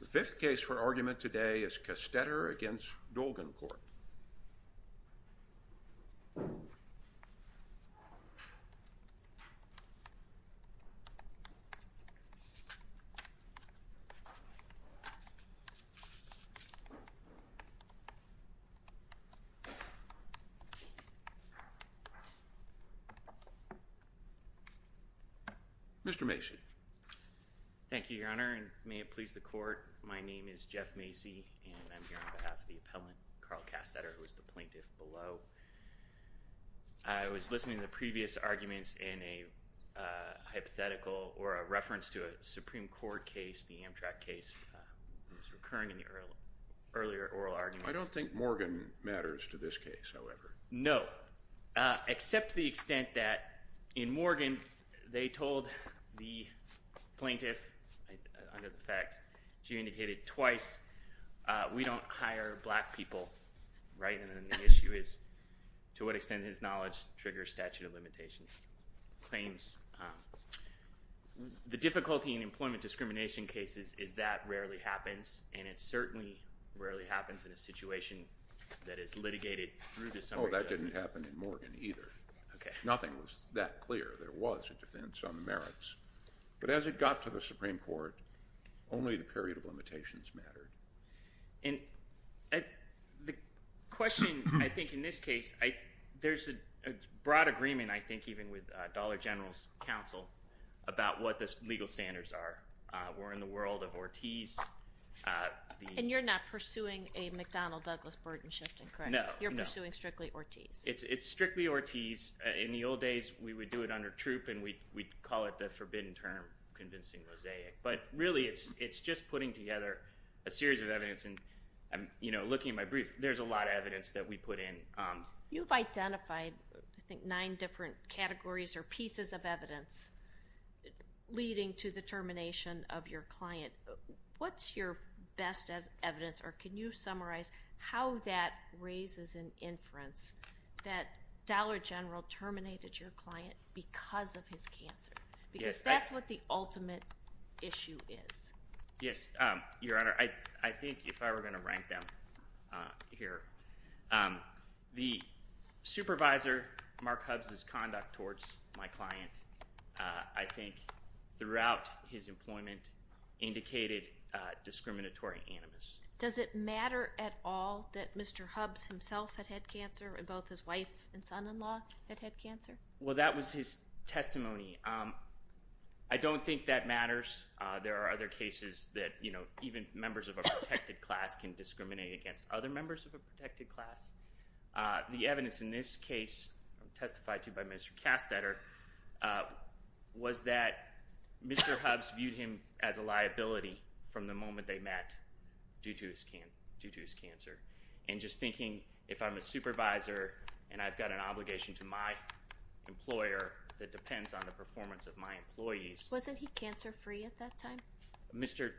The fifth case for argument today is Castetter v. Dolgencorp. Mr. Macy. Thank you, Your Honor, and may it please the Court, my name is Jeff Macy, and I'm here on behalf of the appellant, Carl Castetter, who is the plaintiff below. I was listening to the previous arguments in a hypothetical or a reference to a Supreme Court case, the Amtrak case. It was recurring in the earlier oral arguments. I don't think Morgan matters to this case, however. No, except to the extent that in Morgan, they told the plaintiff, under the facts, she indicated twice, we don't hire black people, right? And then the issue is to what extent his knowledge triggers statute of limitations claims. The difficulty in employment discrimination cases is that rarely happens, and it certainly rarely happens in a situation that is litigated through the summary judgment. Oh, that didn't happen in Morgan either. Nothing was that clear. There was a defense on the merits. But as it got to the Supreme Court, only the period of limitations mattered. And the question, I think, in this case, there's a broad agreement, I think, even with Dollar General's counsel about what the legal standards are. We're in the world of Ortiz. And you're not pursuing a McDonnell-Douglas burden shifting, correct? No, no. You're pursuing strictly Ortiz. It's strictly Ortiz. In the old days, we would do it under troop, and we'd call it the forbidden term, convincing mosaic. But really, it's just putting together a series of evidence. And, you know, looking at my brief, there's a lot of evidence that we put in. You've identified, I think, nine different categories or pieces of evidence leading to the termination of your client. What's your best evidence, or can you summarize how that raises an inference that Dollar General terminated your client because of his cancer? Because that's what the ultimate issue is. Yes, Your Honor. I think if I were going to rank them here, the supervisor, Mark Hubbs' conduct towards my client, I think, throughout his employment, indicated discriminatory animus. Does it matter at all that Mr. Hubbs himself had had cancer and both his wife and son-in-law had had cancer? Well, that was his testimony. I don't think that matters. There are other cases that, you know, even members of a protected class can discriminate against other members of a protected class. The evidence in this case testified to by Mr. Kastetter was that Mr. Hubbs viewed him as a liability from the moment they met due to his cancer. And just thinking, if I'm a supervisor and I've got an obligation to my employer that depends on the performance of my employees. Wasn't he cancer-free at that time? Mr.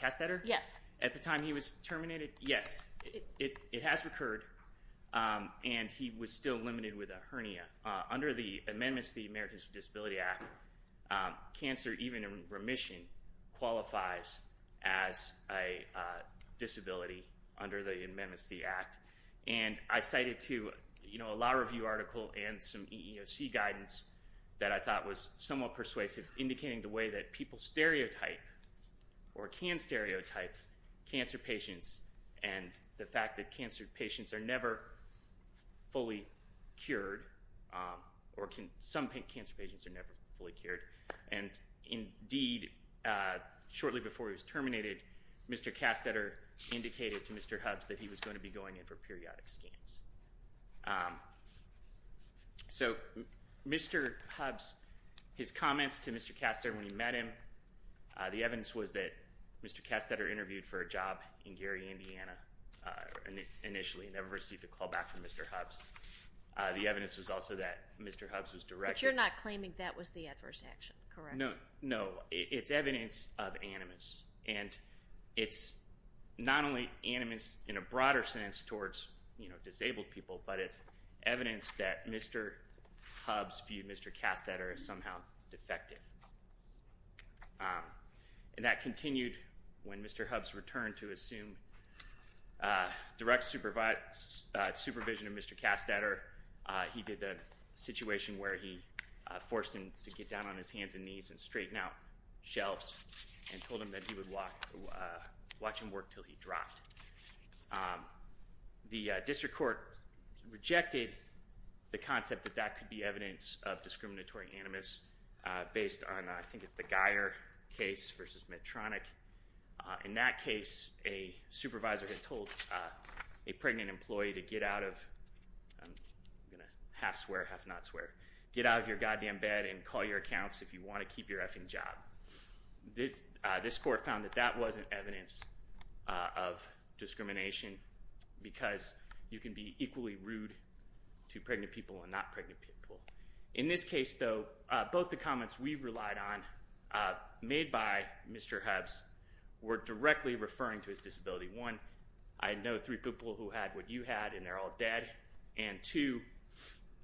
Kastetter? Yes. At the time he was terminated? Yes. Under the amendments to the Americans with Disabilities Act, cancer, even in remission, qualifies as a disability under the amendments to the act. And I cited, too, you know, a law review article and some EEOC guidance that I thought was somewhat persuasive, indicating the way that people stereotype or can stereotype cancer patients and the fact that cancer patients are never fully cured, or some cancer patients are never fully cured. And indeed, shortly before he was terminated, Mr. Kastetter indicated to Mr. Hubbs that he was going to be going in for periodic scans. So Mr. Hubbs, his comments to Mr. Kastetter when he met him, the evidence was that Mr. Kastetter interviewed for a job in Gary, Indiana initially, never received a call back from Mr. Hubbs. The evidence was also that Mr. Hubbs was direct. But you're not claiming that was the adverse action, correct? No. It's evidence of animus. And it's not only animus in a broader sense towards, you know, disabled people, but it's evidence that Mr. Hubbs viewed Mr. Kastetter as somehow defective. And that continued when Mr. Hubbs returned to assume direct supervision of Mr. Kastetter. He did the situation where he forced him to get down on his hands and knees and straighten out shelves and told him that he would watch him work until he dropped. The district court rejected the concept that that could be evidence of discriminatory animus based on, I think it's the Geyer case versus Medtronic. In that case, a supervisor had told a pregnant employee to get out of, I'm going to half swear, half not swear, get out of your goddamn bed and call your accounts if you want to keep your effing job. This court found that that wasn't evidence of discrimination because you can be equally rude to pregnant people and not pregnant people. In this case, though, both the comments we relied on made by Mr. Hubbs were directly referring to his disability. One, I know three people who had what you had and they're all dead. And two,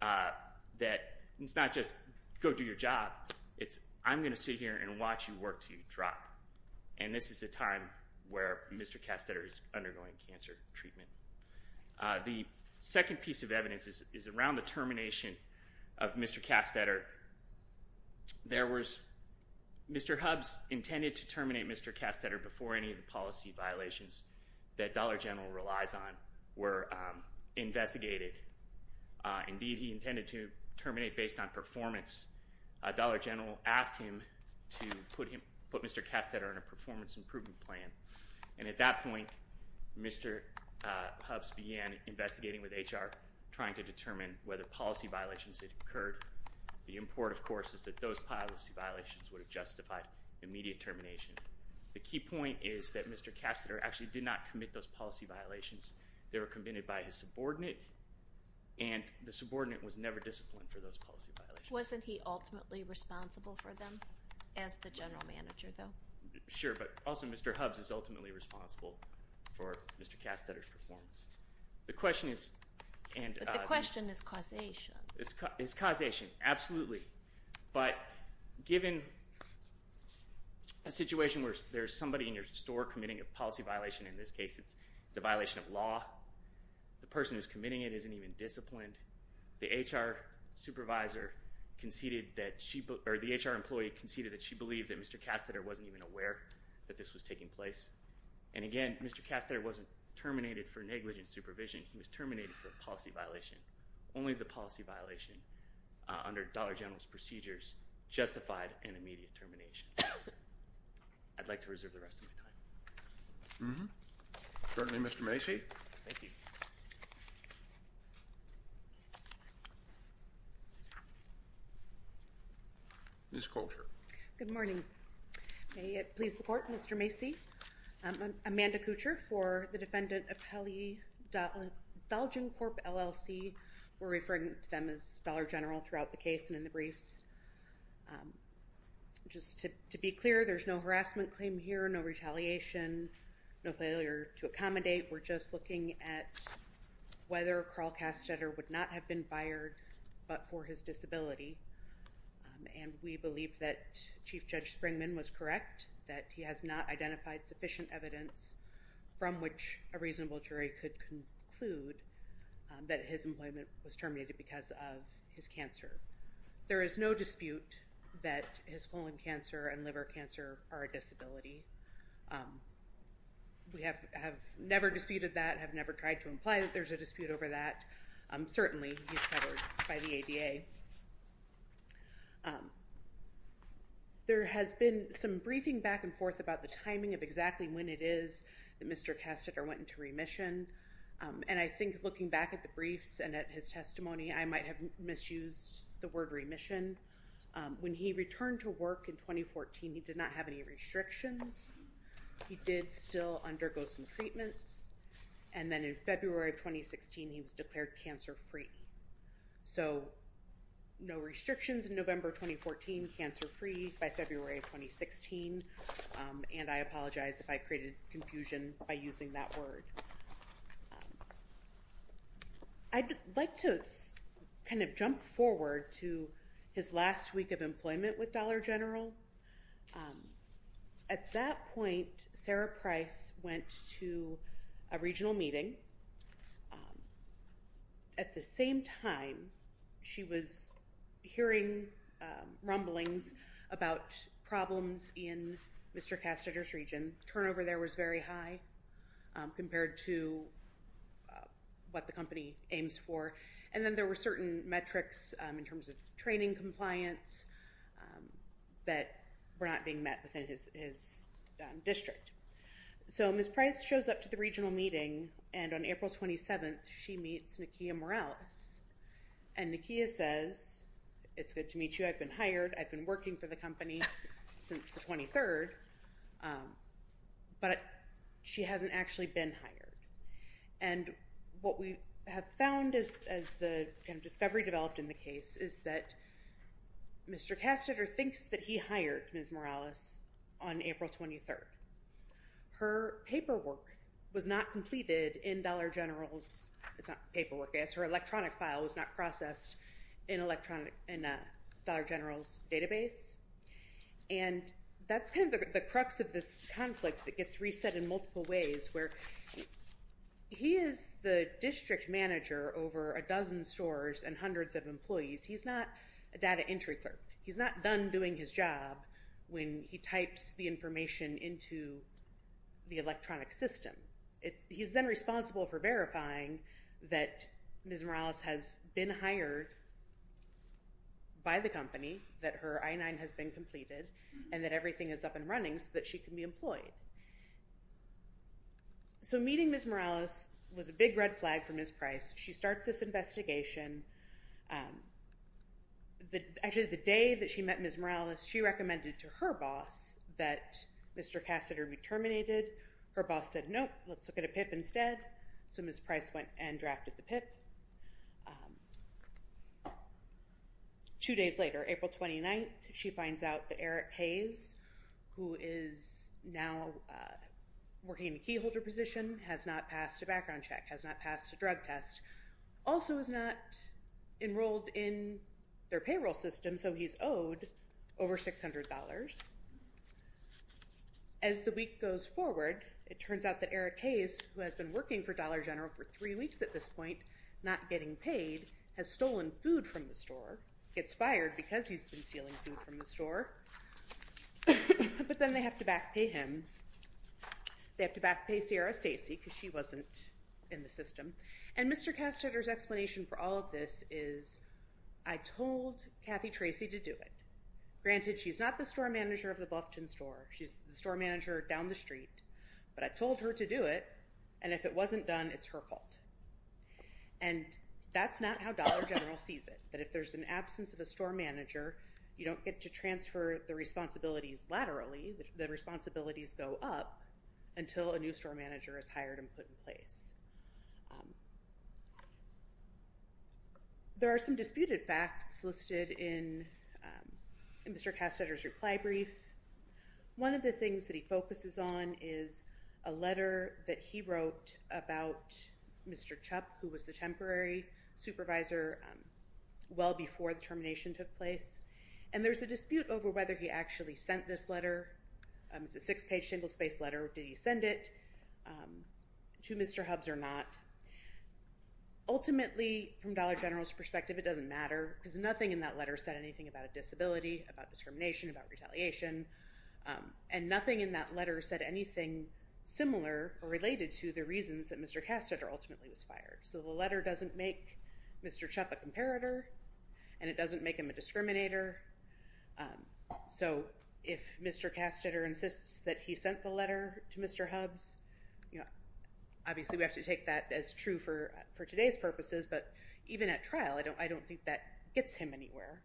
that it's not just go do your job, it's I'm going to sit here and watch you work until you drop. And this is a time where Mr. Kastetter is undergoing cancer treatment. The second piece of evidence is around the termination of Mr. Kastetter. There was, Mr. Hubbs intended to terminate Mr. Kastetter before any of the policy violations that Dollar General relies on were investigated. Indeed, he intended to terminate based on performance. Dollar General asked him to put Mr. Kastetter on a performance improvement plan. And at that point, Mr. Hubbs began investigating with HR trying to determine whether policy violations had occurred. The import, of course, is that those policy violations would have justified immediate termination. The key point is that Mr. Kastetter actually did not commit those policy violations. They were committed by his subordinate and the subordinate was never disappointed for those policy violations. Wasn't he ultimately responsible for them as the general manager, though? Sure, but also Mr. Hubbs is ultimately responsible for Mr. Kastetter's performance. The question is— But the question is causation. It's causation, absolutely. But given a situation where there's somebody in your store committing a policy violation, in this case it's a violation of law, the person who's committing it isn't even disciplined, the HR supervisor conceded that she—or the HR employee conceded that she believed that Mr. Kastetter wasn't even aware that this was taking place. And again, Mr. Kastetter wasn't terminated for negligent supervision. He was terminated for a policy violation. Only the policy violation under Dollar General's procedures justified an immediate termination. I'd like to reserve the rest of my time. Certainly, Mr. Macy. Thank you. Ms. Kuchar. Good morning. May it please the Court, Mr. Macy, I'm Amanda Kuchar for the Defendant Appellee, Belgian Corp, LLC. We're referring to them as Dollar General throughout the case and in the briefs. Just to be clear, there's no harassment claim here, no retaliation, no failure to accommodate. We're just looking at whether Carl Kastetter would not have been fired but for his disability. And we believe that Chief Judge Springman was correct, that he has not identified sufficient evidence from which a reasonable jury could conclude that his employment was terminated because of his cancer. There is no dispute that his colon cancer and liver cancer are a disability. We have never disputed that, have never tried to imply that there's a dispute over that. Certainly, he's covered by the ADA. There has been some briefing back and forth about the timing of exactly when it is that Mr. Kastetter went into remission. And I think looking back at the briefs and at his testimony, I might have misused the word remission. When he returned to work in 2014, he did not have any restrictions. He did still undergo some treatments. And then in February of 2016, he was declared cancer-free. So, no restrictions in November 2014, cancer-free by February of 2016. And I apologize if I created confusion by using that word. I'd like to kind of jump forward to his last week of employment with Dollar General. At that point, Sarah Price went to a regional meeting. At the same time, she was hearing rumblings about problems in Mr. Kastetter's region. Turnover there was very high compared to what the company aims for. And then there were certain metrics in terms of training compliance that were not being met within his district. So, Ms. Price shows up to the regional meeting. And on April 27th, she meets Nakia Morales. And Nakia says, it's good to meet you. I've been hired. I've been working for the company since the 23rd. But she hasn't actually been hired. And what we have found as the kind of discovery developed in the case is that Mr. Kastetter thinks that he hired Ms. Morales on April 23rd. Her paperwork was not completed in Dollar General's. It's not paperwork. Her electronic file was not processed in Dollar General's database. And that's kind of the crux of this conflict that gets reset in multiple ways where he is the district manager over a dozen stores and hundreds of employees. He's not a data entry clerk. He's not done doing his job when he types the information into the electronic system. He's then responsible for verifying that Ms. Morales has been hired by the company, that her I-9 has been completed, and that everything is up and running so that she can be employed. So, meeting Ms. Morales was a big red flag for Ms. Price. She starts this investigation. Actually, the day that she met Ms. Morales, she recommended to her boss that Mr. Kastetter be terminated. Her boss said, nope, let's look at a PIP instead. So, Ms. Price went and drafted the PIP. Two days later, April 29th, she finds out that Eric Hayes, who is now working in a keyholder position, has not passed a background check, has not passed a drug test. Also, is not enrolled in their payroll system, so he's owed over $600. As the week goes forward, it turns out that Eric Hayes, who has been working for Dollar General for three weeks at this point, not getting paid, has stolen food from the store. Gets fired because he's been stealing food from the store. But then they have to back pay him. They have to back pay Sierra Stacey because she wasn't in the system. And Mr. Kastetter's explanation for all of this is, I told Kathy Tracy to do it. Granted, she's not the store manager of the Buffton store. She's the store manager down the street. But I told her to do it, and if it wasn't done, it's her fault. And that's not how Dollar General sees it, that if there's an absence of a store manager, you don't get to transfer the responsibilities laterally. The responsibilities go up until a new store manager is hired and put in place. There are some disputed facts listed in Mr. Kastetter's reply brief. One of the things that he focuses on is a letter that he wrote about Mr. Chupp, who was the temporary supervisor well before the termination took place. And there's a dispute over whether he actually sent this letter. It's a six-page, single-spaced letter. Did he send it to Mr. Hubs or not? Ultimately, from Dollar General's perspective, it doesn't matter, because nothing in that letter said anything about a disability, about discrimination, about retaliation. And nothing in that letter said anything similar or related to the reasons that Mr. Kastetter ultimately was fired. So the letter doesn't make Mr. Chupp a comparator, and it doesn't make him a discriminator. So if Mr. Kastetter insists that he sent the letter to Mr. Hubs, obviously we have to take that as true for today's purposes. But even at trial, I don't think that gets him anywhere.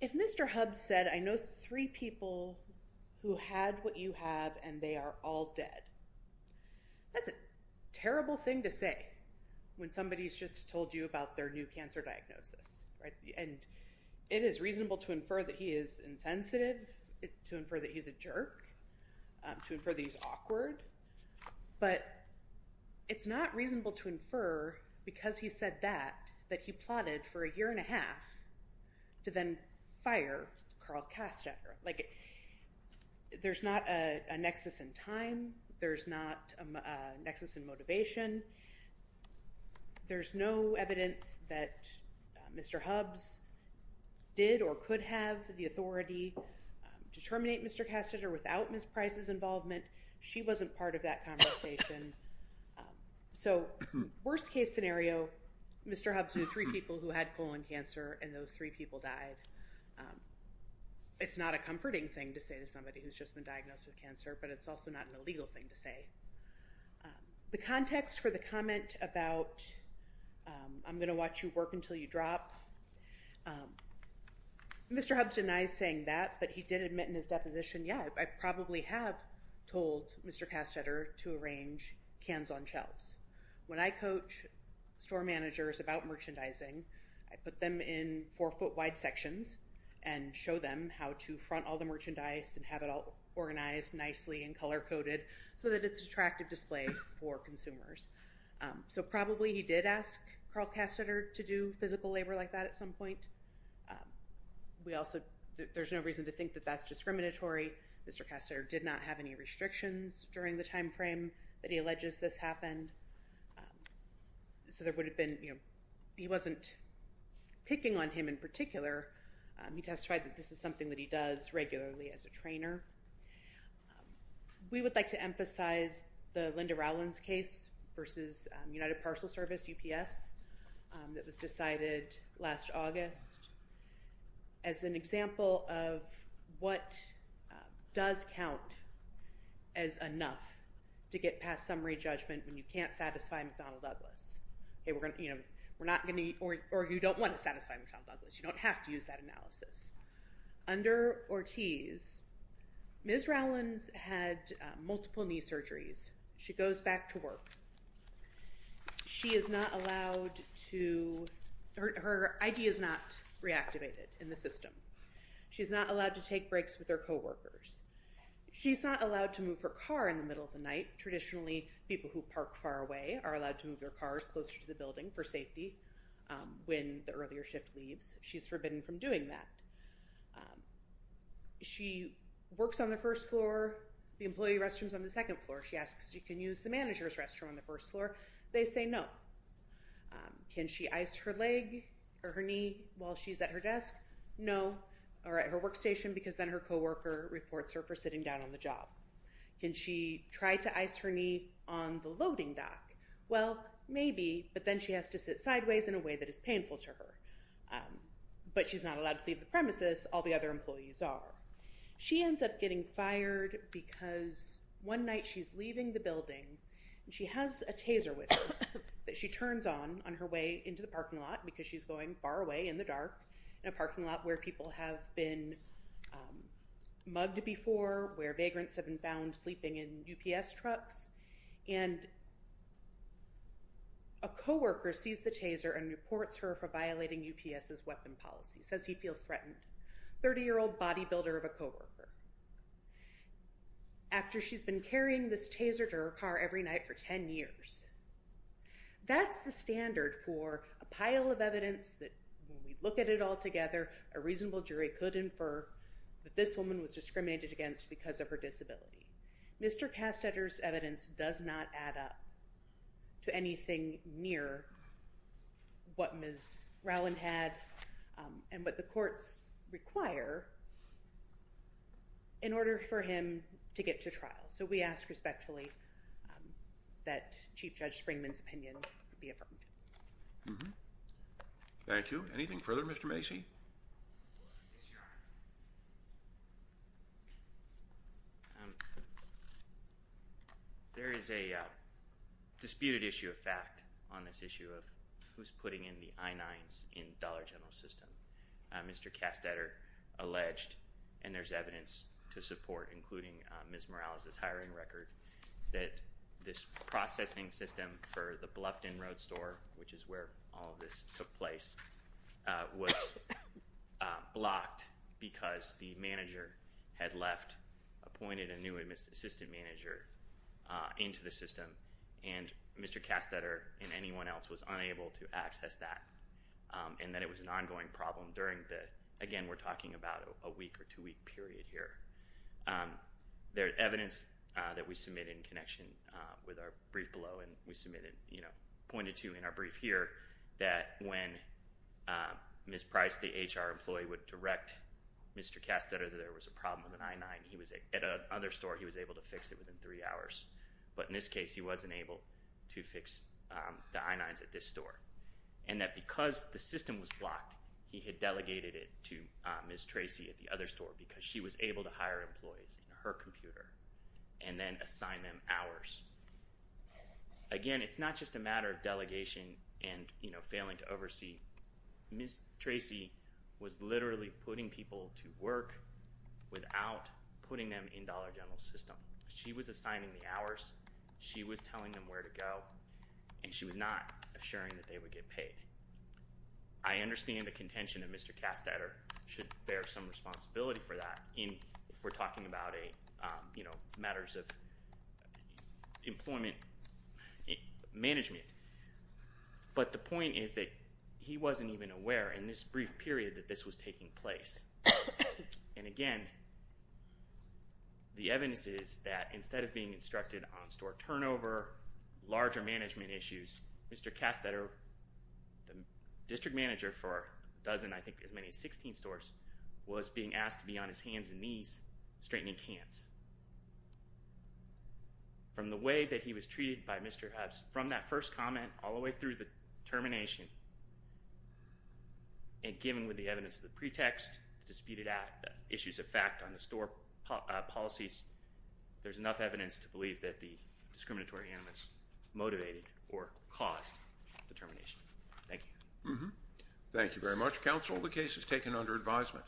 If Mr. Hubs said, I know three people who had what you have, and they are all dead, that's a terrible thing to say when somebody's just told you about their new cancer diagnosis. It is reasonable to infer that he is insensitive, to infer that he's a jerk, to infer that he's awkward. But it's not reasonable to infer, because he said that, that he plotted for a year and a half to then fire Karl Kastetter. There's not a nexus in time. There's not a nexus in motivation. There's no evidence that Mr. Hubs did or could have the authority to terminate Mr. Kastetter without Ms. Price's involvement. She wasn't part of that conversation. So, worst case scenario, Mr. Hubs knew three people who had colon cancer, and those three people died. It's not a comforting thing to say to somebody who's just been diagnosed with cancer, but it's also not an illegal thing to say. The context for the comment about, I'm going to watch you work until you drop, Mr. Hubs denies saying that, but he did admit in his deposition, yeah, I probably have told Mr. Kastetter to arrange cans on shelves. When I coach store managers about merchandising, I put them in four-foot-wide sections and show them how to front all the merchandise and have it all organized nicely and color-coded so that it's an attractive display for consumers. So, probably he did ask Karl Kastetter to do physical labor like that at some point. We also, there's no reason to think that that's discriminatory. Mr. Kastetter did not have any restrictions during the timeframe that he alleges this happened. So, there would have been, you know, he wasn't picking on him in particular. He testified that this is something that he does regularly as a trainer. We would like to emphasize the Linda Rowlands case versus United Parcel Service, UPS, that was decided last August as an example of what does count as enough to get past summary judgment when you can't satisfy McDonnell Douglas. You know, we're not going to, or you don't want to satisfy McDonnell Douglas. You don't have to use that analysis. Under Ortiz, Ms. Rowlands had multiple knee surgeries. She goes back to work. She is not allowed to, her ID is not reactivated in the system. She's not allowed to take breaks with her coworkers. She's not allowed to move her car in the middle of the night. Traditionally, people who park far away are allowed to move their cars closer to the building for safety when the earlier shift leaves. She's forbidden from doing that. She works on the first floor. The employee restroom is on the second floor. She asks if she can use the manager's restroom on the first floor. They say no. Can she ice her leg or her knee while she's at her desk? No, or at her workstation because then her coworker reports her for sitting down on the job. Can she try to ice her knee on the loading dock? Well, maybe, but then she has to sit sideways in a way that is painful to her. But she's not allowed to leave the premises. All the other employees are. She ends up getting fired because one night she's leaving the building, and she has a taser with her that she turns on on her way into the parking lot because she's going far away in the dark in a parking lot where people have been mugged before, where vagrants have been found sleeping in UPS trucks. And a coworker sees the taser and reports her for violating UPS's weapon policy. Says he feels threatened. 30-year-old bodybuilder of a coworker. After she's been carrying this taser to her car every night for 10 years. That's the standard for a pile of evidence that when we look at it all together, a reasonable jury could infer that this woman was discriminated against because of her disability. Mr. Kastetter's evidence does not add up to anything near what Ms. Rowland had and what the courts require in order for him to get to trial. So we ask respectfully that Chief Judge Springman's opinion be affirmed. Thank you. Anything further, Mr. Macy? Yes, Your Honor. There is a disputed issue of fact on this issue of who's putting in the I-9s in Dollar General's system. Mr. Kastetter alleged, and there's evidence to support, including Ms. Morales' hiring record, that this processing system for the Bluffton Road store, which is where all of this took place, was blocked because the manager had left, appointed a new assistant manager into the system, and Mr. Kastetter and anyone else was unable to access that, and that it was an ongoing problem during the, again, we're talking about a week or two-week period here. There's evidence that we submitted in connection with our brief below, and we pointed to in our brief here, that when Ms. Price, the HR employee, would direct Mr. Kastetter that there was a problem with an I-9, at another store he was able to fix it within three hours, but in this case he wasn't able to fix the I-9s at this store, and that because the system was blocked, he had delegated it to Ms. Tracy at the other store because she was able to hire employees in her computer and then assign them hours. Again, it's not just a matter of delegation and, you know, failing to oversee. Ms. Tracy was literally putting people to work without putting them in Dollar General's system. She was assigning the hours, she was telling them where to go, and she was not assuring that they would get paid. I understand the contention of Mr. Kastetter should bear some responsibility for that, if we're talking about matters of employment management, but the point is that he wasn't even aware in this brief period that this was taking place. And again, the evidence is that instead of being instructed on store turnover, larger management issues, Mr. Kastetter, the district manager for a dozen, I think as many as 16 stores, was being asked to be on his hands and knees straightening cans. From the way that he was treated by Mr. Hubbs, from that first comment all the way through the termination, and given with the evidence of the pretext, disputed issues of fact on the store policies, there's enough evidence to believe that the discriminatory animus motivated or caused the termination. Thank you. Thank you very much, counsel. The case is taken under advisement.